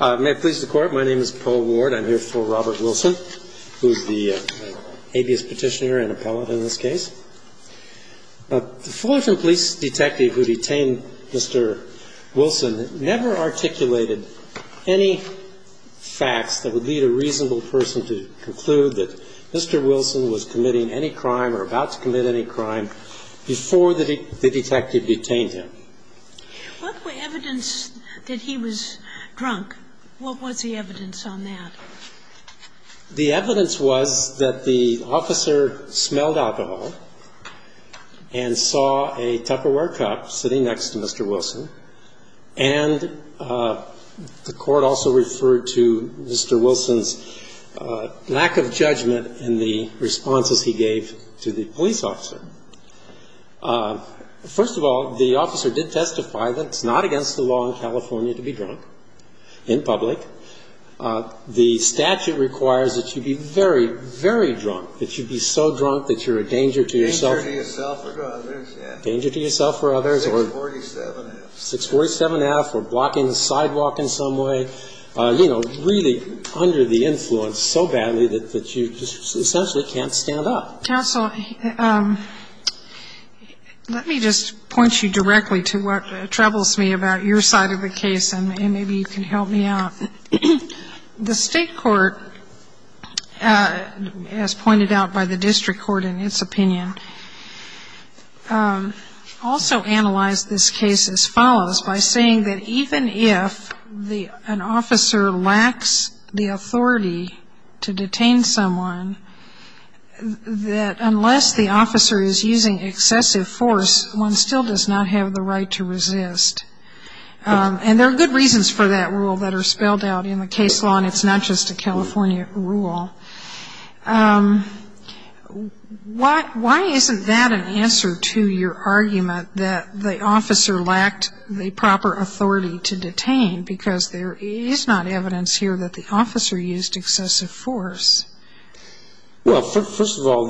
May it please the Court, my name is Paul Ward. I'm here for Robert Wilson, who's the habeas petitioner and appellate in this case. The Fullerton police detective who detained Mr. Wilson never articulated any facts that would lead a reasonable person to conclude that Mr. Wilson was committing any crime or about to commit any crime before the detective detained him. What were evidence that he was drunk? What was the evidence on that? The evidence was that the officer smelled alcohol and saw a Tupperware cup sitting next to Mr. Wilson. And the Court also referred to Mr. Wilson's lack of judgment in the responses he gave to the police officer. First of all, the officer did testify that it's not against the law in California to be drunk in public. The statute requires that you be very, very drunk, that you be so drunk that you're a danger to yourself. Danger to yourself or others, yeah. Danger to yourself or others. 647-F. 647-F, or blocking the sidewalk in some way, you know, really under the influence so badly that you essentially can't stand up. Counsel, let me just point you directly to what troubles me about your side of the case, and maybe you can help me out. The state court, as pointed out by the district court in its opinion, also analyzed this case as follows, by saying that even if an officer lacks the authority to detain someone, that unless the officer is using excessive force, one still does not have the right to resist. And there are good reasons for that rule that are spelled out in the case law, and it's not just a California rule. Why isn't that an answer to your argument that the officer lacked the proper authority to detain, because there is not evidence here that the officer used excessive force? Well, first of all,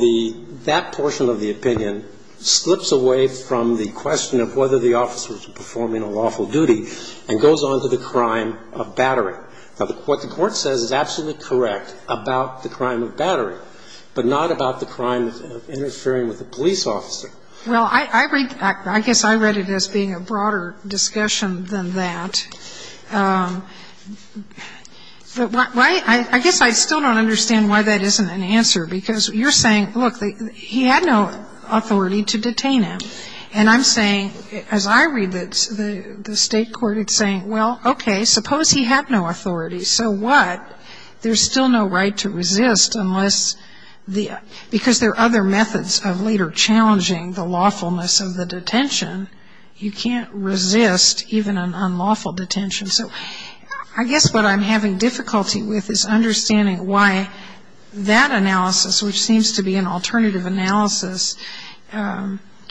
that portion of the opinion slips away from the question of whether the officer was performing a lawful duty and goes on to the crime of battering. Now, what the Court says is absolutely correct about the crime of battering, but not about the crime of interfering with a police officer. Well, I read that, I guess I read it as being a broader discussion than that. But I guess I still don't understand why that isn't an answer, because you're saying, look, he had no authority to detain him. And I'm saying, as I read the State court, it's saying, well, okay, suppose he had no authority. So what? There's still no right to resist unless the ‑‑ because there are other methods of later challenging the lawfulness of the detention. You can't resist even an unlawful detention. So I guess what I'm having difficulty with is understanding why that analysis, which seems to be an alternative analysis,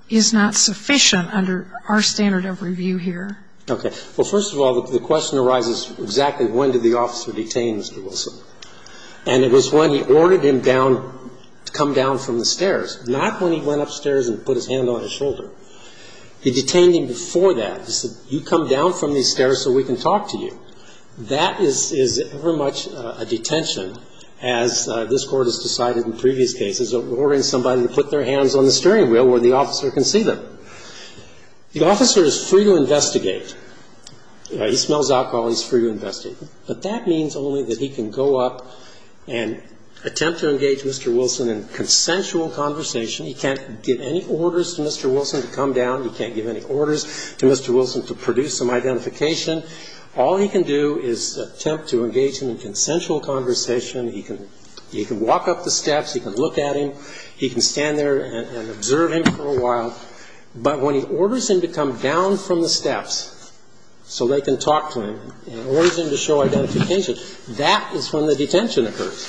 is not sufficient under our standard of review here. Okay. Well, first of all, the question arises exactly when did the officer detain Mr. Wilson. And it was when he ordered him down, to come down from the stairs, not when he went upstairs and put his hand on his shoulder. He detained him before that. He said, you come down from these stairs so we can talk to you. That is very much a detention, as this Court has decided in previous cases, ordering somebody to put their hands on the steering wheel where the officer can see them. The officer is free to investigate. He smells alcohol. He's free to investigate. But that means only that he can go up and attempt to engage Mr. Wilson in consensual conversation. He can't give any orders to Mr. Wilson to come down. He can't give any orders to Mr. Wilson to produce some identification. All he can do is attempt to engage him in consensual conversation. He can walk up the steps. He can look at him. He can stand there and observe him for a while. But when he orders him to come down from the steps so they can talk to him and orders him to show identification, that is when the detention occurs.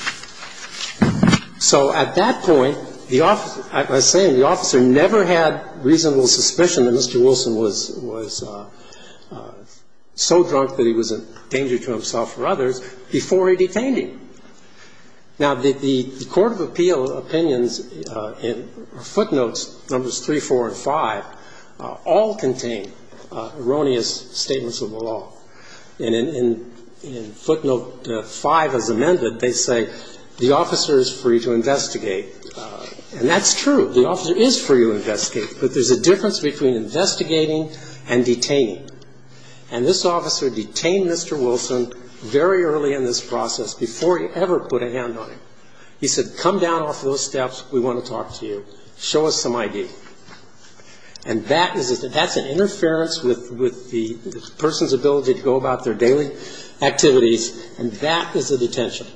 So at that point, the officer, as I say, the officer never had reasonable suspicion that Mr. Wilson was so drunk that he was a danger to himself or others before he detained him. Now, the Court of Appeal opinions in footnotes numbers 3, 4, and 5 all contain erroneous statements of the law. And in footnote 5 as amended, they say the officer is free to investigate. And that's true. The officer is free to investigate. But there's a difference between investigating and detaining. And this officer detained Mr. Wilson very early in this process, before he ever put a hand on him. He said, come down off those steps. We want to talk to you. Show us some ID. And that's an interference with the person's ability to go about their daily activities, and that is a detention.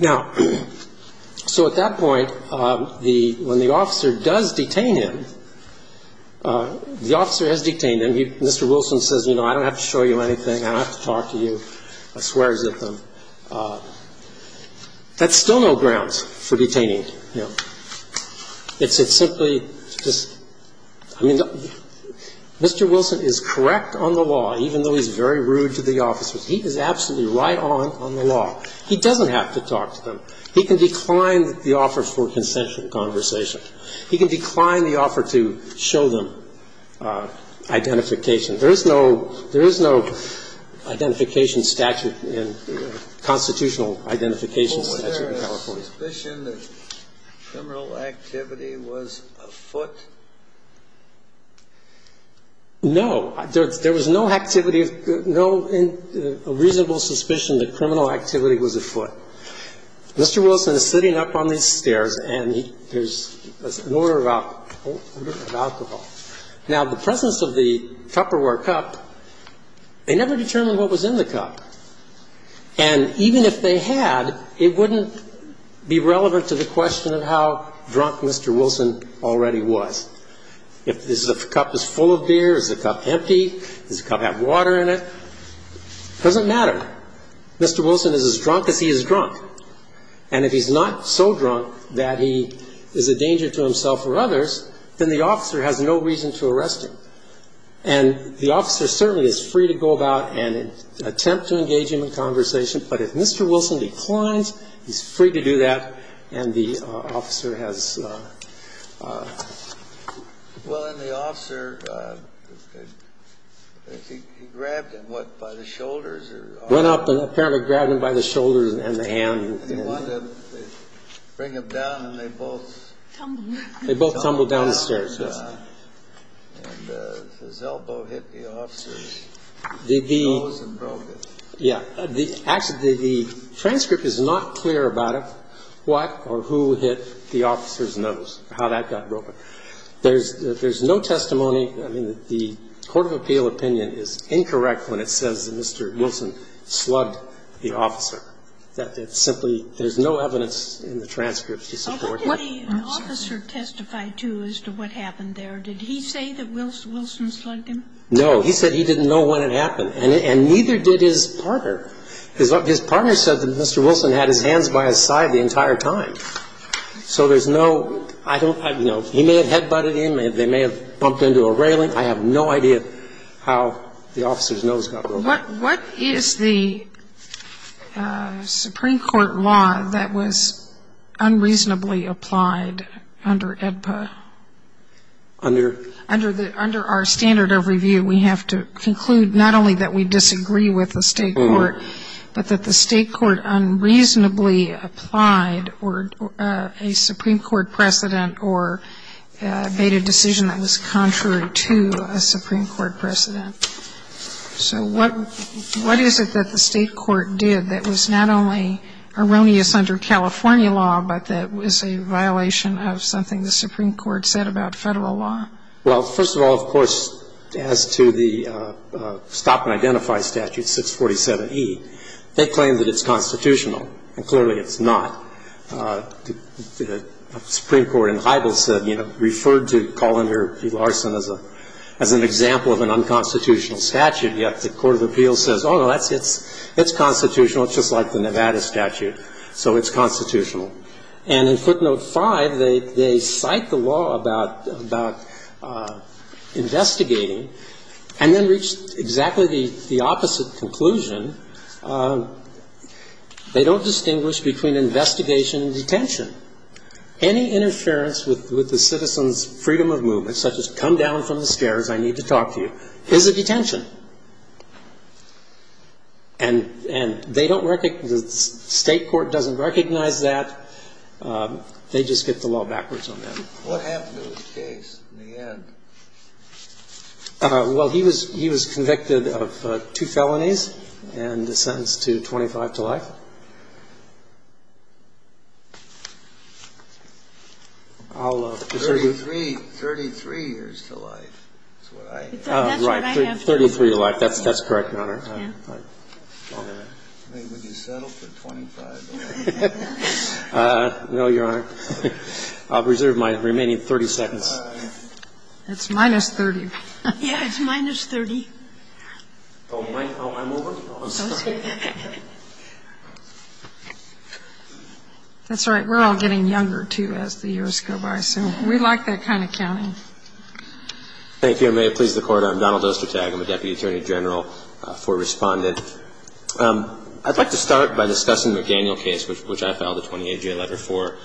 Now, so at that point, the, when the officer does detain him, the officer has detained him. Mr. Wilson says, you know, I don't have to show you anything. I don't have to talk to you. I swear as if I'm, that's still no grounds for detaining, you know. It's simply just, I mean, Mr. Wilson is correct on the law, even though he's very rude to the officers. He is absolutely right on, on the law. He doesn't have to talk to them. He can decline the offer for consensual conversation. He can decline the offer to show them identification. There is no, there is no identification statute in, constitutional identification statute in California. Do you think there's a reasonable suspicion that criminal activity was afoot? No. There was no activity, no reasonable suspicion that criminal activity was afoot. Mr. Wilson is sitting up on these stairs, and he, there's an order of alcohol, order of alcohol. Now, the presence of the Tupperware cup, they never determined what was in the cup. And even if they had, it wouldn't be relevant to the question of how drunk Mr. Wilson already was. If the cup is full of beer, is the cup empty, does the cup have water in it, it doesn't matter. Mr. Wilson is as drunk as he is drunk. And if he's not so drunk that he is a danger to himself or others, then the officer has no reason to arrest him. And the officer certainly is free to go about and attempt to engage him in conversation. But if Mr. Wilson declines, he's free to do that, and the officer has no reason to arrest him. Well, and the officer, he grabbed him, what, by the shoulders or arm? Went up and apparently grabbed him by the shoulders and the hand. And he wanted to bring him down, and they both. Tumbled. They both tumbled down the stairs, yes. And his elbow hit the officer's nose and broke it. Yeah. Actually, the transcript is not clear about what or who hit the officer's nose, how that got broken. There's no testimony. I mean, the court of appeal opinion is incorrect when it says that Mr. Wilson slugged the officer. That simply, there's no evidence in the transcript to support that. What did the officer testify to as to what happened there? Did he say that Wilson slugged him? No. He said he didn't know when it happened. And neither did his partner. His partner said that Mr. Wilson had his hands by his side the entire time. So there's no, you know, he may have head-butted him. They may have bumped into a railing. I have no idea how the officer's nose got broken. What is the Supreme Court law that was unreasonably applied under AEDPA? Under? Under our standard of review, we have to conclude not only that we disagree with the state court, but that the state court unreasonably applied a Supreme Court precedent or made a decision that was contrary to a Supreme Court precedent. So what is it that the state court did that was not only erroneous under California law, but that was a violation of something the Supreme Court said about Federal law? Well, first of all, of course, as to the stop-and-identify statute, 647E, they claim that it's constitutional, and clearly it's not. The Supreme Court in Heidel said, you know, referred to Colander v. Larson as an example of an unconstitutional statute, yet the Court of Appeals says, oh, no, it's constitutional. It's just like the Nevada statute, so it's constitutional. And in footnote 5, they cite the law about investigating and then reach exactly the opposite conclusion. They don't distinguish between investigation and detention. Any interference with the citizen's freedom of movement, such as come down from the stairs, I need to talk to you, is a detention. And they don't recognize the state court doesn't recognize that. They just get the law backwards on them. What happened to his case in the end? Well, he was convicted of two felonies and sentenced to 25 to life. 33 years to life is what I have. Right. 33 to life. That's correct, Your Honor. Would you settle for 25? No, Your Honor. I'll reserve my remaining 30 seconds. It's minus 30. Yeah, it's minus 30. Oh, I'm over? Oh, I'm sorry. That's all right. We're all getting younger, too, as the years go by. So we like that kind of counting. Thank you. I may have pleased the Court. I'm Donald Ostertag. I'm a Deputy Attorney General for Respondent. I'd like to start by discussing the McDaniel case, which I filed a 28-J letter for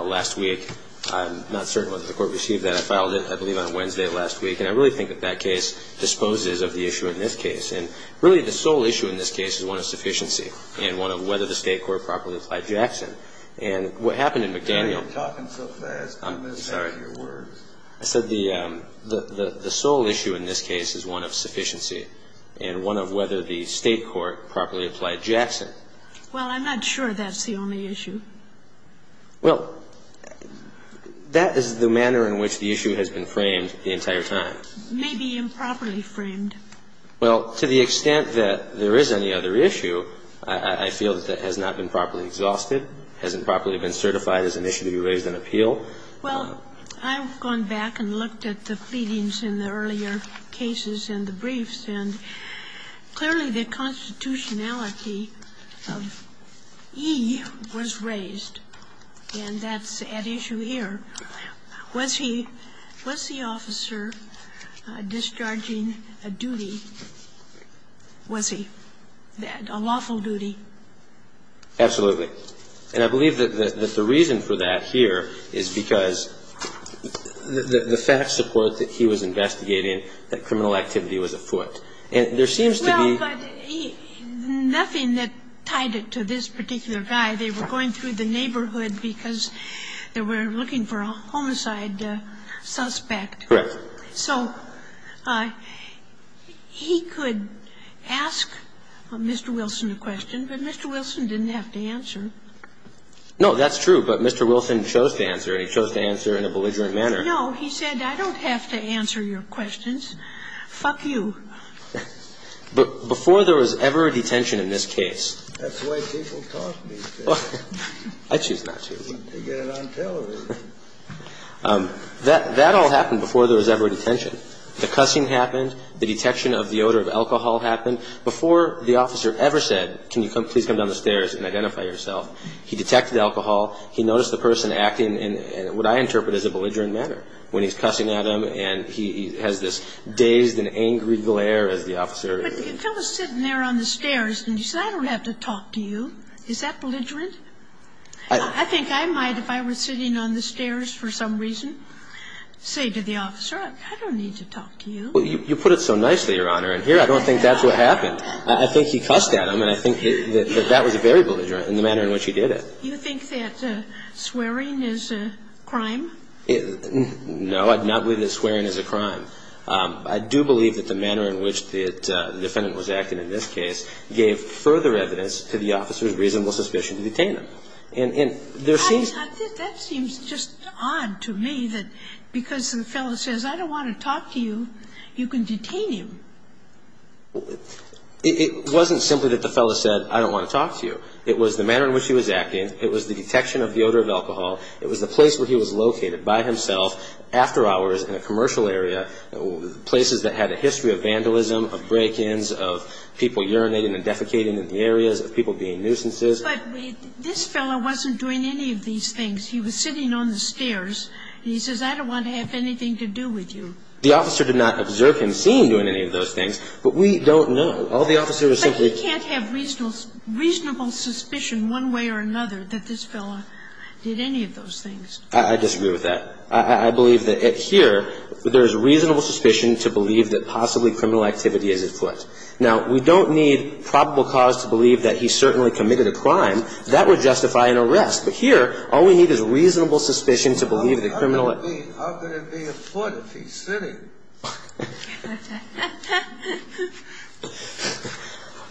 last week. I'm not certain whether the Court received that. I filed it, I believe, on Wednesday last week. And I really think that that case disposes of the issue in this case. And, really, the sole issue in this case is one of sufficiency and one of whether the state court properly applied Jackson. And what happened in McDaniel ---- You're talking so fast. Give me a second. I'm sorry. I said the sole issue in this case is one of sufficiency and one of whether the state court properly applied Jackson. Well, I'm not sure that's the only issue. Well, that is the manner in which the issue has been framed the entire time. Maybe improperly framed. Well, to the extent that there is any other issue, I feel that that has not been properly exhausted, hasn't properly been certified as an issue to be raised in appeal. Well, I've gone back and looked at the pleadings in the earlier cases and the briefs, and clearly the constitutionality of E was raised, and that's at issue here. Was he ---- was the officer discharging a duty? Was he? A lawful duty? Absolutely. And I believe that the reason for that here is because the fact support that he was investigating that criminal activity was afoot. And there seems to be ---- Well, but nothing that tied it to this particular guy. They were going through the neighborhood because they were looking for a homicide suspect. Correct. So he could ask Mr. Wilson a question, but Mr. Wilson didn't have to answer. No, that's true. But Mr. Wilson chose to answer, and he chose to answer in a belligerent manner. No. He said, I don't have to answer your questions. Fuck you. Before there was ever a detention in this case ---- That's the way people talk these days. I choose not to. They get it on television. That all happened before there was ever a detention. The cussing happened. The detection of the odor of alcohol happened. Before the officer ever said, can you please come down the stairs and identify yourself, he detected alcohol. He noticed the person acting in what I interpret as a belligerent manner when he's cussing at him, and he has this dazed and angry glare as the officer ---- But the fellow is sitting there on the stairs, and he said, I don't have to talk to you. Is that belligerent? I think I might, if I were sitting on the stairs for some reason, say to the officer, I don't need to talk to you. Well, you put it so nicely, Your Honor, and here I don't think that's what happened. I think he cussed at him, and I think that that was very belligerent in the manner in which he did it. You think that swearing is a crime? No, I do not believe that swearing is a crime. I do believe that the manner in which the defendant was acting in this case gave further evidence to the officer's reasonable suspicion to detain him. That seems just odd to me that because the fellow says, I don't want to talk to you, you can detain him. It wasn't simply that the fellow said, I don't want to talk to you. It was the manner in which he was acting, it was the detection of the odor of alcohol, it was the place where he was located by himself, after hours in a commercial area, places that had a history of vandalism, of break-ins, of people urinating and defecating in the areas, of people being nuisances. But this fellow wasn't doing any of these things. He was sitting on the stairs, and he says, I don't want to have anything to do with you. The officer did not observe him seen doing any of those things, but we don't know. All the officer was simply ---- But he can't have reasonable suspicion one way or another that this fellow did any of those things. I disagree with that. I believe that here there is reasonable suspicion to believe that possibly criminal activity is at foot. Now, we don't need probable cause to believe that he certainly committed a crime. That would justify an arrest. But here, all we need is reasonable suspicion to believe the criminal ---- How could it be at foot if he's sitting?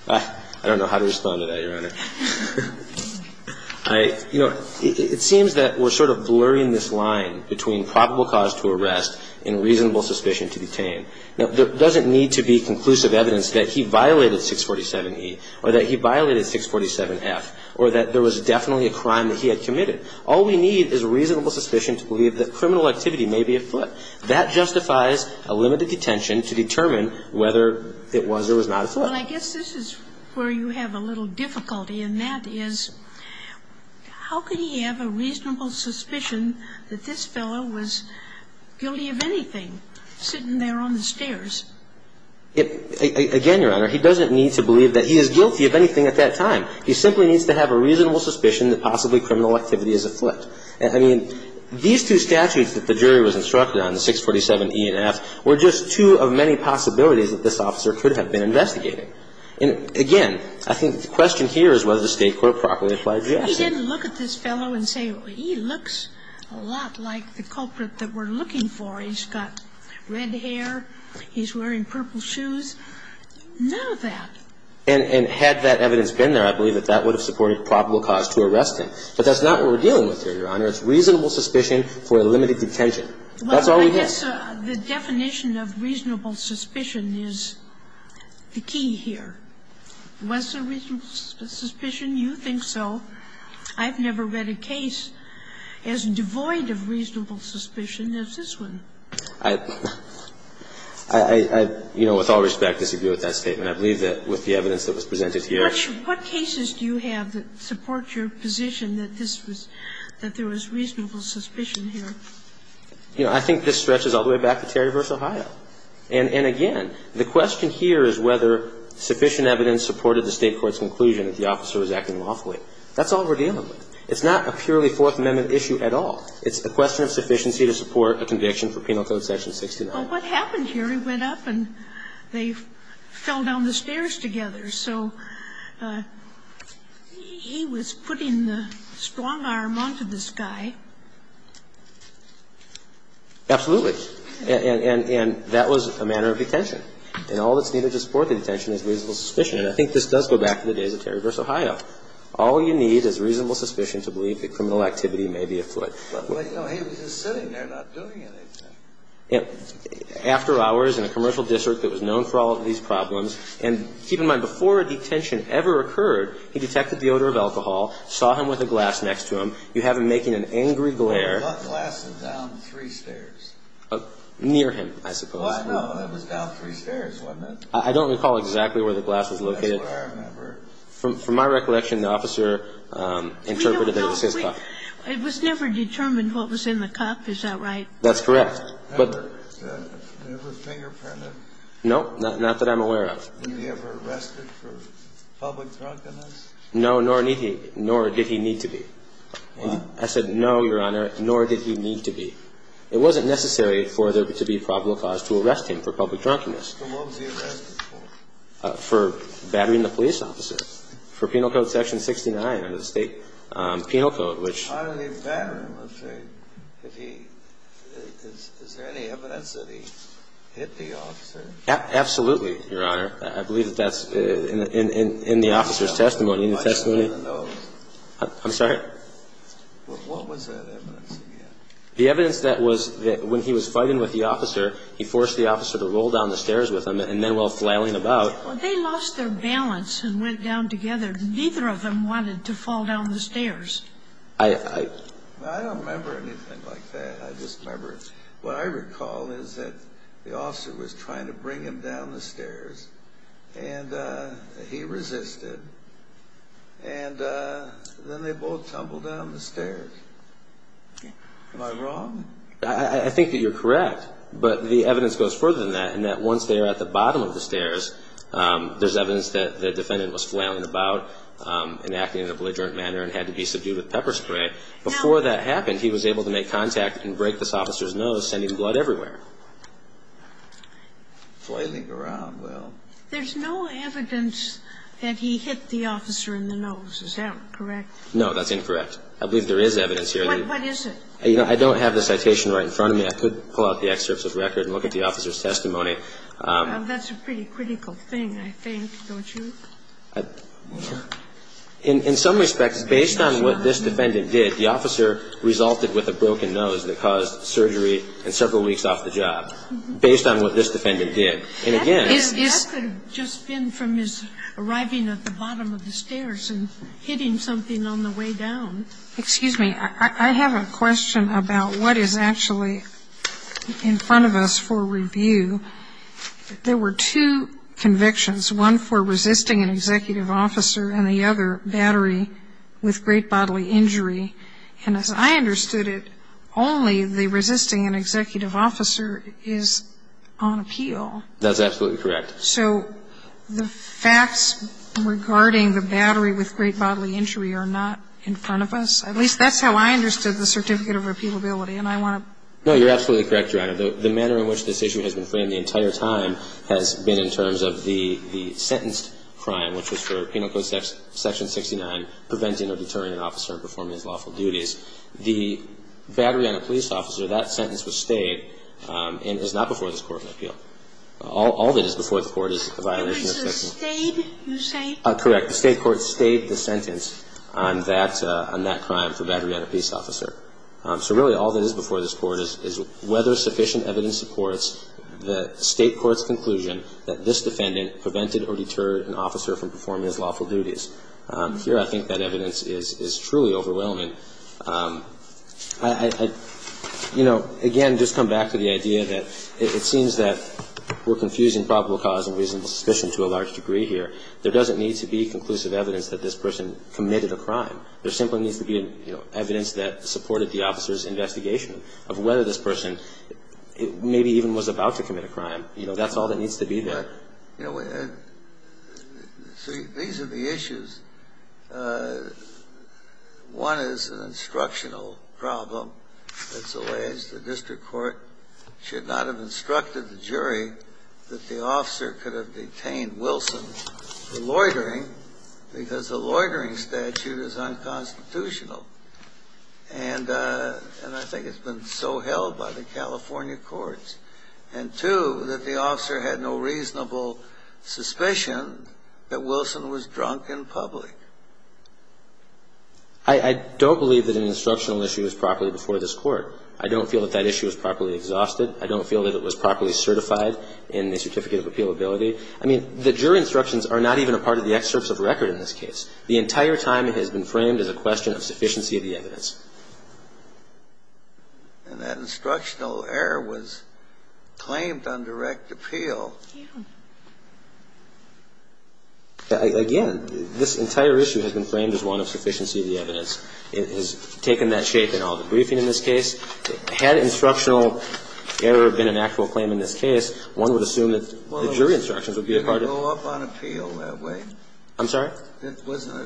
I don't know how to respond to that, Your Honor. You know, it seems that we're sort of blurring this line between probable cause to arrest and reasonable suspicion to detain. Now, there doesn't need to be conclusive evidence that he violated 647E or that he violated 647F or that there was definitely a crime that he had committed. All we need is reasonable suspicion to believe that criminal activity may be at foot. That justifies a limited detention to determine whether it was or was not at foot. Well, I guess this is where you have a little difficulty, and that is how could he have a reasonable suspicion that this fellow was guilty of anything, sitting there on the stairs? Again, Your Honor, he doesn't need to believe that he is guilty of anything at that time. He simply needs to have a reasonable suspicion that possibly criminal activity is at foot. I mean, these two statutes that the jury was instructed on, 647E and F, were just two of many possibilities that this officer could have been investigating. And again, I think the question here is whether the State court properly applies the action. He didn't look at this fellow and say, well, he looks a lot like the culprit that we're looking for. He's got red hair. He's wearing purple shoes. None of that. And had that evidence been there, I believe that that would have supported probable cause to arrest him. But that's not what we're dealing with here, Your Honor. It's reasonable suspicion for a limited detention. That's all we have. Well, I guess the definition of reasonable suspicion is the key here. Was there reasonable suspicion? You think so. I've never read a case as devoid of reasonable suspicion as this one. I, you know, with all respect, disagree with that statement. I believe that with the evidence that was presented here. What cases do you have that support your position that this was, that there was reasonable suspicion here? You know, I think this stretches all the way back to Terry v. Ohio. And again, the question here is whether sufficient evidence supported the State court's conclusion that the officer was acting lawfully. That's all we're dealing with. It's not a purely Fourth Amendment issue at all. It's a question of sufficiency to support a conviction for Penal Code section 69. Well, what happened here? He went up and they fell down the stairs together. So he was putting the strong arm onto this guy. Absolutely. And that was a manner of detention. And all that's needed to support the detention is reasonable suspicion. And I think this does go back to the days of Terry v. Ohio. All you need is reasonable suspicion to believe that criminal activity may be afoot. But, you know, he was just sitting there not doing anything. After hours in a commercial district that was known for all of these problems, and keep in mind, before a detention ever occurred, he detected the odor of alcohol, saw him with a glass next to him. You have him making an angry glare. What glass was down three stairs? Near him, I suppose. Oh, I know. It was down three stairs, wasn't it? I don't recall exactly where the glass was located. That's what I remember. From my recollection, the officer interpreted that it was his cup. It was never determined what was in the cup, is that right? That's correct. Never fingerprinted? No, not that I'm aware of. Did he ever arrested for public drunkenness? No, nor did he need to be. What? I said no, Your Honor, nor did he need to be. It wasn't necessary for there to be probable cause to arrest him for public drunkenness. Then what was he arrested for? For battering the police officer. For Penal Code Section 69, under the State Penal Code, which – How did he batter him? I'm saying if he – is there any evidence that he hit the officer? Absolutely, Your Honor. I believe that that's in the officer's testimony. I don't even know. I'm sorry? What was that evidence again? The evidence that was that when he was fighting with the officer, he forced the officer to roll down the stairs with him, and then while flailing about – Well, they lost their balance and went down together. Neither of them wanted to fall down the stairs. I – I don't remember anything like that. I just remember what I recall is that the officer was trying to bring him down the stairs, and he resisted, and then they both tumbled down the stairs. Am I wrong? I think that you're correct, but the evidence goes further than that, in that once they are at the bottom of the stairs, there's evidence that the defendant was flailing about and acting in an obligerant manner and had to be subdued with pepper spray. Before that happened, he was able to make contact and break this officer's nose, sending blood everywhere. Flailing around, well. There's no evidence that he hit the officer in the nose. Is that correct? No, that's incorrect. I believe there is evidence here. What is it? You know, I don't have the citation right in front of me. I could pull out the excerpts of the record and look at the officer's testimony. That's a pretty critical thing, I think, don't you? In some respects, based on what this defendant did, the officer resulted with a broken nose that caused surgery and several weeks off the job, based on what this defendant did. And, again. That could have just been from his arriving at the bottom of the stairs and hitting something on the way down. Excuse me. I have a question about what is actually in front of us for review. There were two convictions, one for resisting an executive officer and the other battery with great bodily injury. And as I understood it, only the resisting an executive officer is on appeal. That's absolutely correct. So the facts regarding the battery with great bodily injury are not in front of us? At least that's how I understood the certificate of appealability. And I want to ---- No, you're absolutely correct, Your Honor. The manner in which this issue has been framed the entire time has been in terms of the sentenced crime, which was for penal code section 69, preventing or deterring an officer from performing his lawful duties. The battery on a police officer, that sentence was stayed and is not before this Court of Appeal. All that is before the Court is a violation of section ---- The state, you say? Correct. The state court stayed the sentence on that crime for battery on a police officer. So, really, all that is before this Court is whether sufficient evidence supports the state court's conclusion that this defendant prevented or deterred an officer from performing his lawful duties. Here I think that evidence is truly overwhelming. I, you know, again, just come back to the idea that it seems that we're confusing probable cause and reasonable suspicion to a large degree here. There doesn't need to be conclusive evidence that this person committed a crime. There simply needs to be, you know, evidence that supported the officer's investigation of whether this person maybe even was about to commit a crime. You know, that's all that needs to be there. You know, these are the issues. One is an instructional problem. It's alleged the district court should not have instructed the jury that the officer could have detained Wilson for loitering because the loitering statute is unconstitutional. And I think it's been so held by the California courts. And two, that the officer had no reasonable suspicion that Wilson was drunk in public. I don't believe that an instructional issue is properly before this Court. I don't feel that that issue is properly exhausted. I don't feel that it was properly certified in the certificate of appealability. I mean, the jury instructions are not even a part of the excerpts of record in this case. The entire time it has been framed as a question of sufficiency of the evidence. And that instructional error was claimed on direct appeal. Yeah. Again, this entire issue has been framed as one of sufficiency of the evidence. It has taken that shape in all the briefing in this case. Had instructional error been an actual claim in this case, one would assume that the jury instructions would be a part of it. Well, it didn't go up on appeal that way. I'm sorry? It wasn't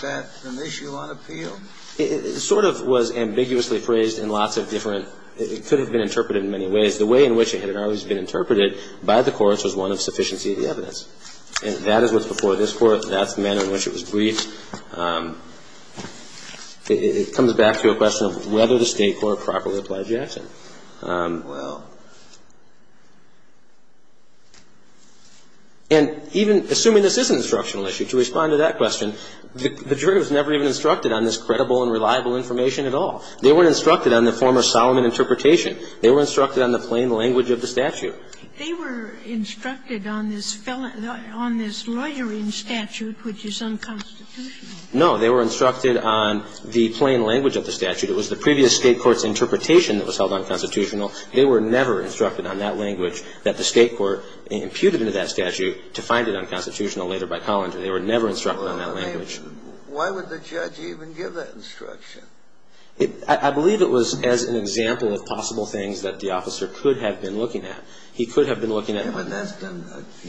that an issue on appeal. It sort of was ambiguously phrased in lots of different – it could have been interpreted in many ways. The way in which it had always been interpreted by the courts was one of sufficiency of the evidence. And that is what's before this Court. That's the manner in which it was briefed. It comes back to a question of whether the State court properly applied Jackson. Well, and even assuming this is an instructional issue, to respond to that question, the jury was never even instructed on this credible and reliable information at all. They weren't instructed on the former Solomon interpretation. They were instructed on the plain language of the statute. They were instructed on this felon – on this loitering statute, which is unconstitutional. No. They were instructed on the plain language of the statute. It was the previous State court's interpretation that was held unconstitutional. They were never instructed on that language that the State court imputed into that statute to find it unconstitutional later by Collins. They were never instructed on that language. Why would the judge even give that instruction? I believe it was as an example of possible things that the officer could have been looking at. He could have been looking at –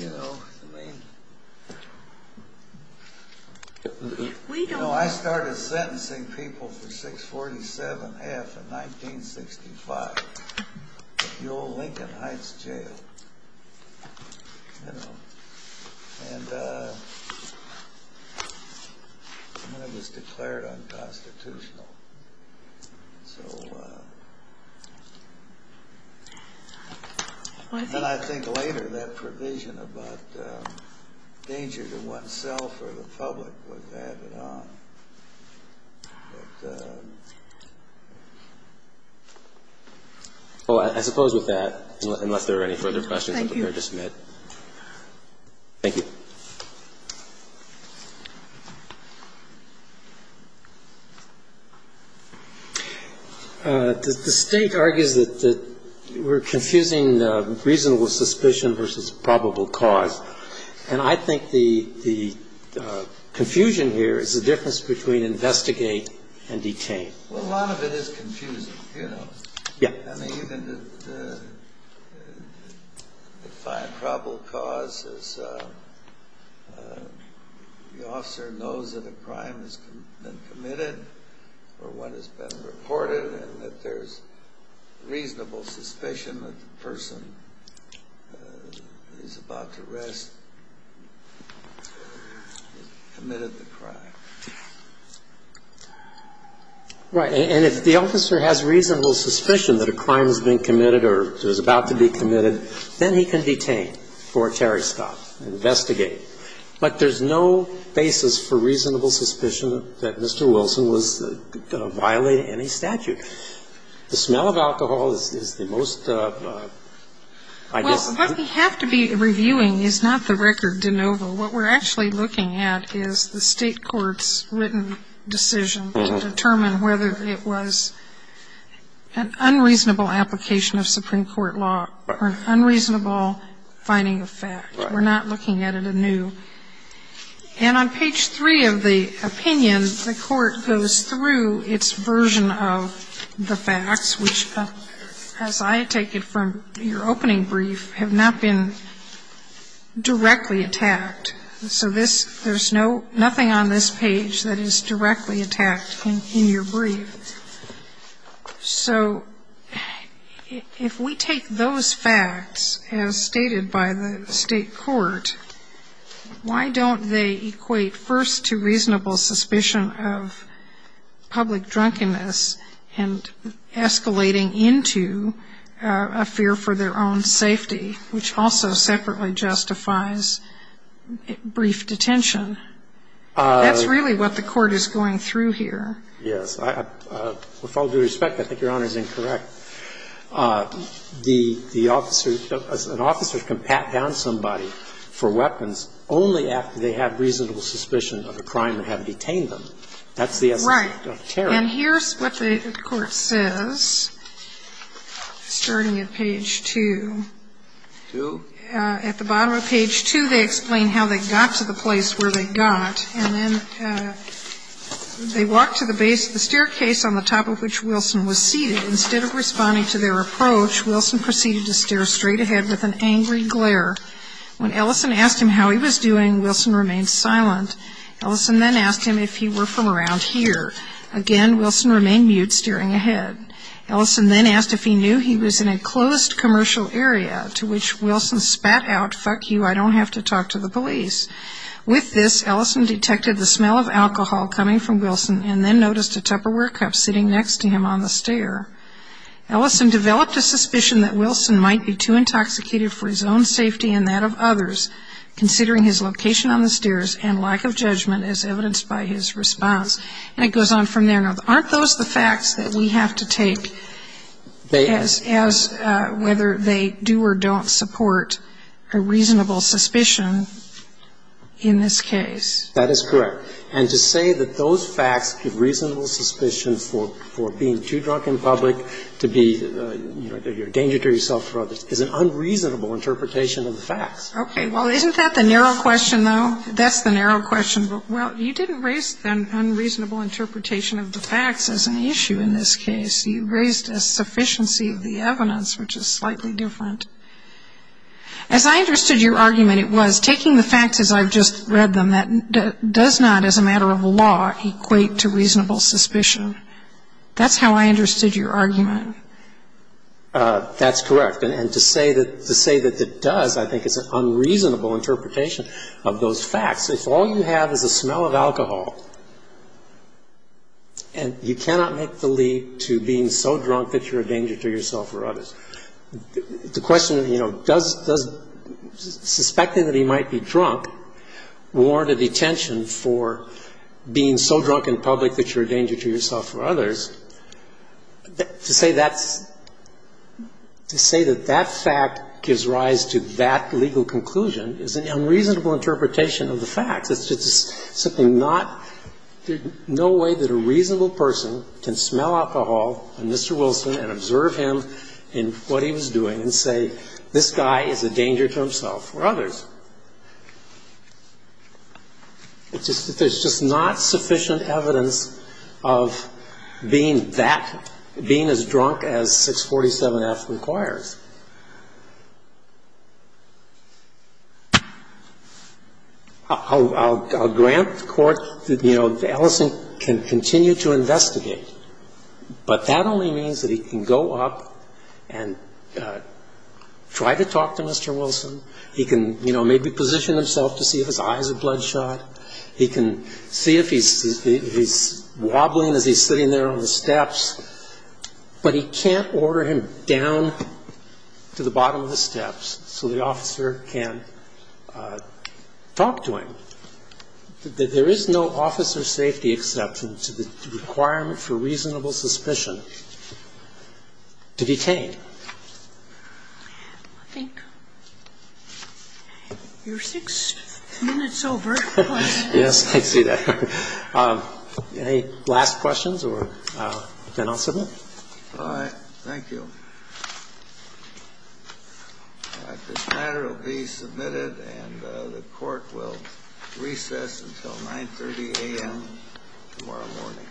You know, I started sentencing people for 647F in 1965, the old Lincoln Heights jail. And it was declared unconstitutional. And I think later that provision about danger to oneself or the public was added on. But I suppose with that, unless there are any further questions, I'm prepared to submit. Thank you. Thank you. The State argues that we're confusing reasonable suspicion versus probable cause. And I think the confusion here is the difference between investigate and detain. Well, a lot of it is confusing, you know. Yeah. I mean, you can define probable cause as the officer knows that a crime has been committed or one has been reported and that there's reasonable suspicion that the person is about to rest or has committed the crime. Right. And if the officer has reasonable suspicion that a crime has been committed or is about to be committed, then he can detain for a terrorist stop, investigate. But there's no basis for reasonable suspicion that Mr. Wilson was going to violate any statute. The smell of alcohol is the most, I guess – Well, what we have to be reviewing is not the record de novo. What we're actually looking at is the state court's written decision to determine whether it was an unreasonable application of Supreme Court law or an unreasonable finding of fact. Right. We're not looking at it anew. And on page 3 of the opinion, the court goes through its version of the facts, which, as I take it from your opening brief, have not been directly attacked. So this – there's no – nothing on this page that is directly attacked in your brief. So if we take those facts as stated by the state court, why don't they equate first to reasonable suspicion of public drunkenness and escalating into a fear for their own safety, which also separately justifies brief detention? That's really what the court is going through here. Yes. With all due respect, I think Your Honor is incorrect. The officer – an officer can pat down somebody for weapons only after they have reasonable suspicion of a crime and have detained them. That's the essence of terror. Right. And here's what the court says, starting at page 2. Two? At the bottom of page 2, they explain how they got to the place where they got, and then they walked to the base of the staircase on the top of which Wilson was seated. Instead of responding to their approach, Wilson proceeded to stare straight ahead with an angry glare. When Ellison asked him how he was doing, Wilson remained silent. Ellison then asked him if he were from around here. Again, Wilson remained mute, staring ahead. Ellison then asked if he knew he was in a closed commercial area, to which Wilson spat out, fuck you, I don't have to talk to the police. With this, Ellison detected the smell of alcohol coming from Wilson and then noticed a Tupperware cup sitting next to him on the stair. Ellison developed a suspicion that Wilson might be too intoxicated for his own safety and that of others, considering his location on the stairs and lack of judgment as evidenced by his response. And it goes on from there. Now, aren't those the facts that we have to take as whether they do or don't support a reasonable suspicion in this case? That is correct. And to say that those facts give reasonable suspicion for being too drunk in public, to be a danger to yourself or others, is an unreasonable interpretation of the facts. Okay. Well, isn't that the narrow question, though? That's the narrow question. Well, you didn't raise an unreasonable interpretation of the facts as an issue in this case. You raised a sufficiency of the evidence, which is slightly different. As I understood your argument, it was taking the facts as I've just read them, that does not, as a matter of law, equate to reasonable suspicion. That's how I understood your argument. That's correct. And to say that it does, I think, is an unreasonable interpretation of those facts. If all you have is a smell of alcohol, and you cannot make the leap to being so drunk that you're a danger to yourself or others, the question, you know, does suspecting that he might be drunk warrant a detention for being so drunk in public that you're a danger to yourself or others? To say that's – to say that that fact gives rise to that legal conclusion is an unreasonable interpretation of the facts. It's just simply not – there's no way that a reasonable person can smell alcohol on Mr. Wilson and observe him and what he was doing and say, this guy is a danger to himself or others. It's just – there's just not sufficient evidence of being that – being as drunk as 647F requires. I'll grant court, you know, Ellison can continue to investigate, but that only means that he can go up and try to talk to Mr. Wilson. He can, you know, maybe position himself to see if his eyes are bloodshot. He can see if he's wobbling as he's sitting there on the steps. But he can't order him down to the bottom of the steps so the officer can talk to him. There is no officer safety exception to the requirement for reasonable suspicion to detain. I think we're six minutes over. Yes, I see that. Any last questions, or then I'll submit. All right. Thank you. This matter will be submitted and the court will recess until 9.30 a.m. tomorrow morning.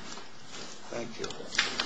Thank you.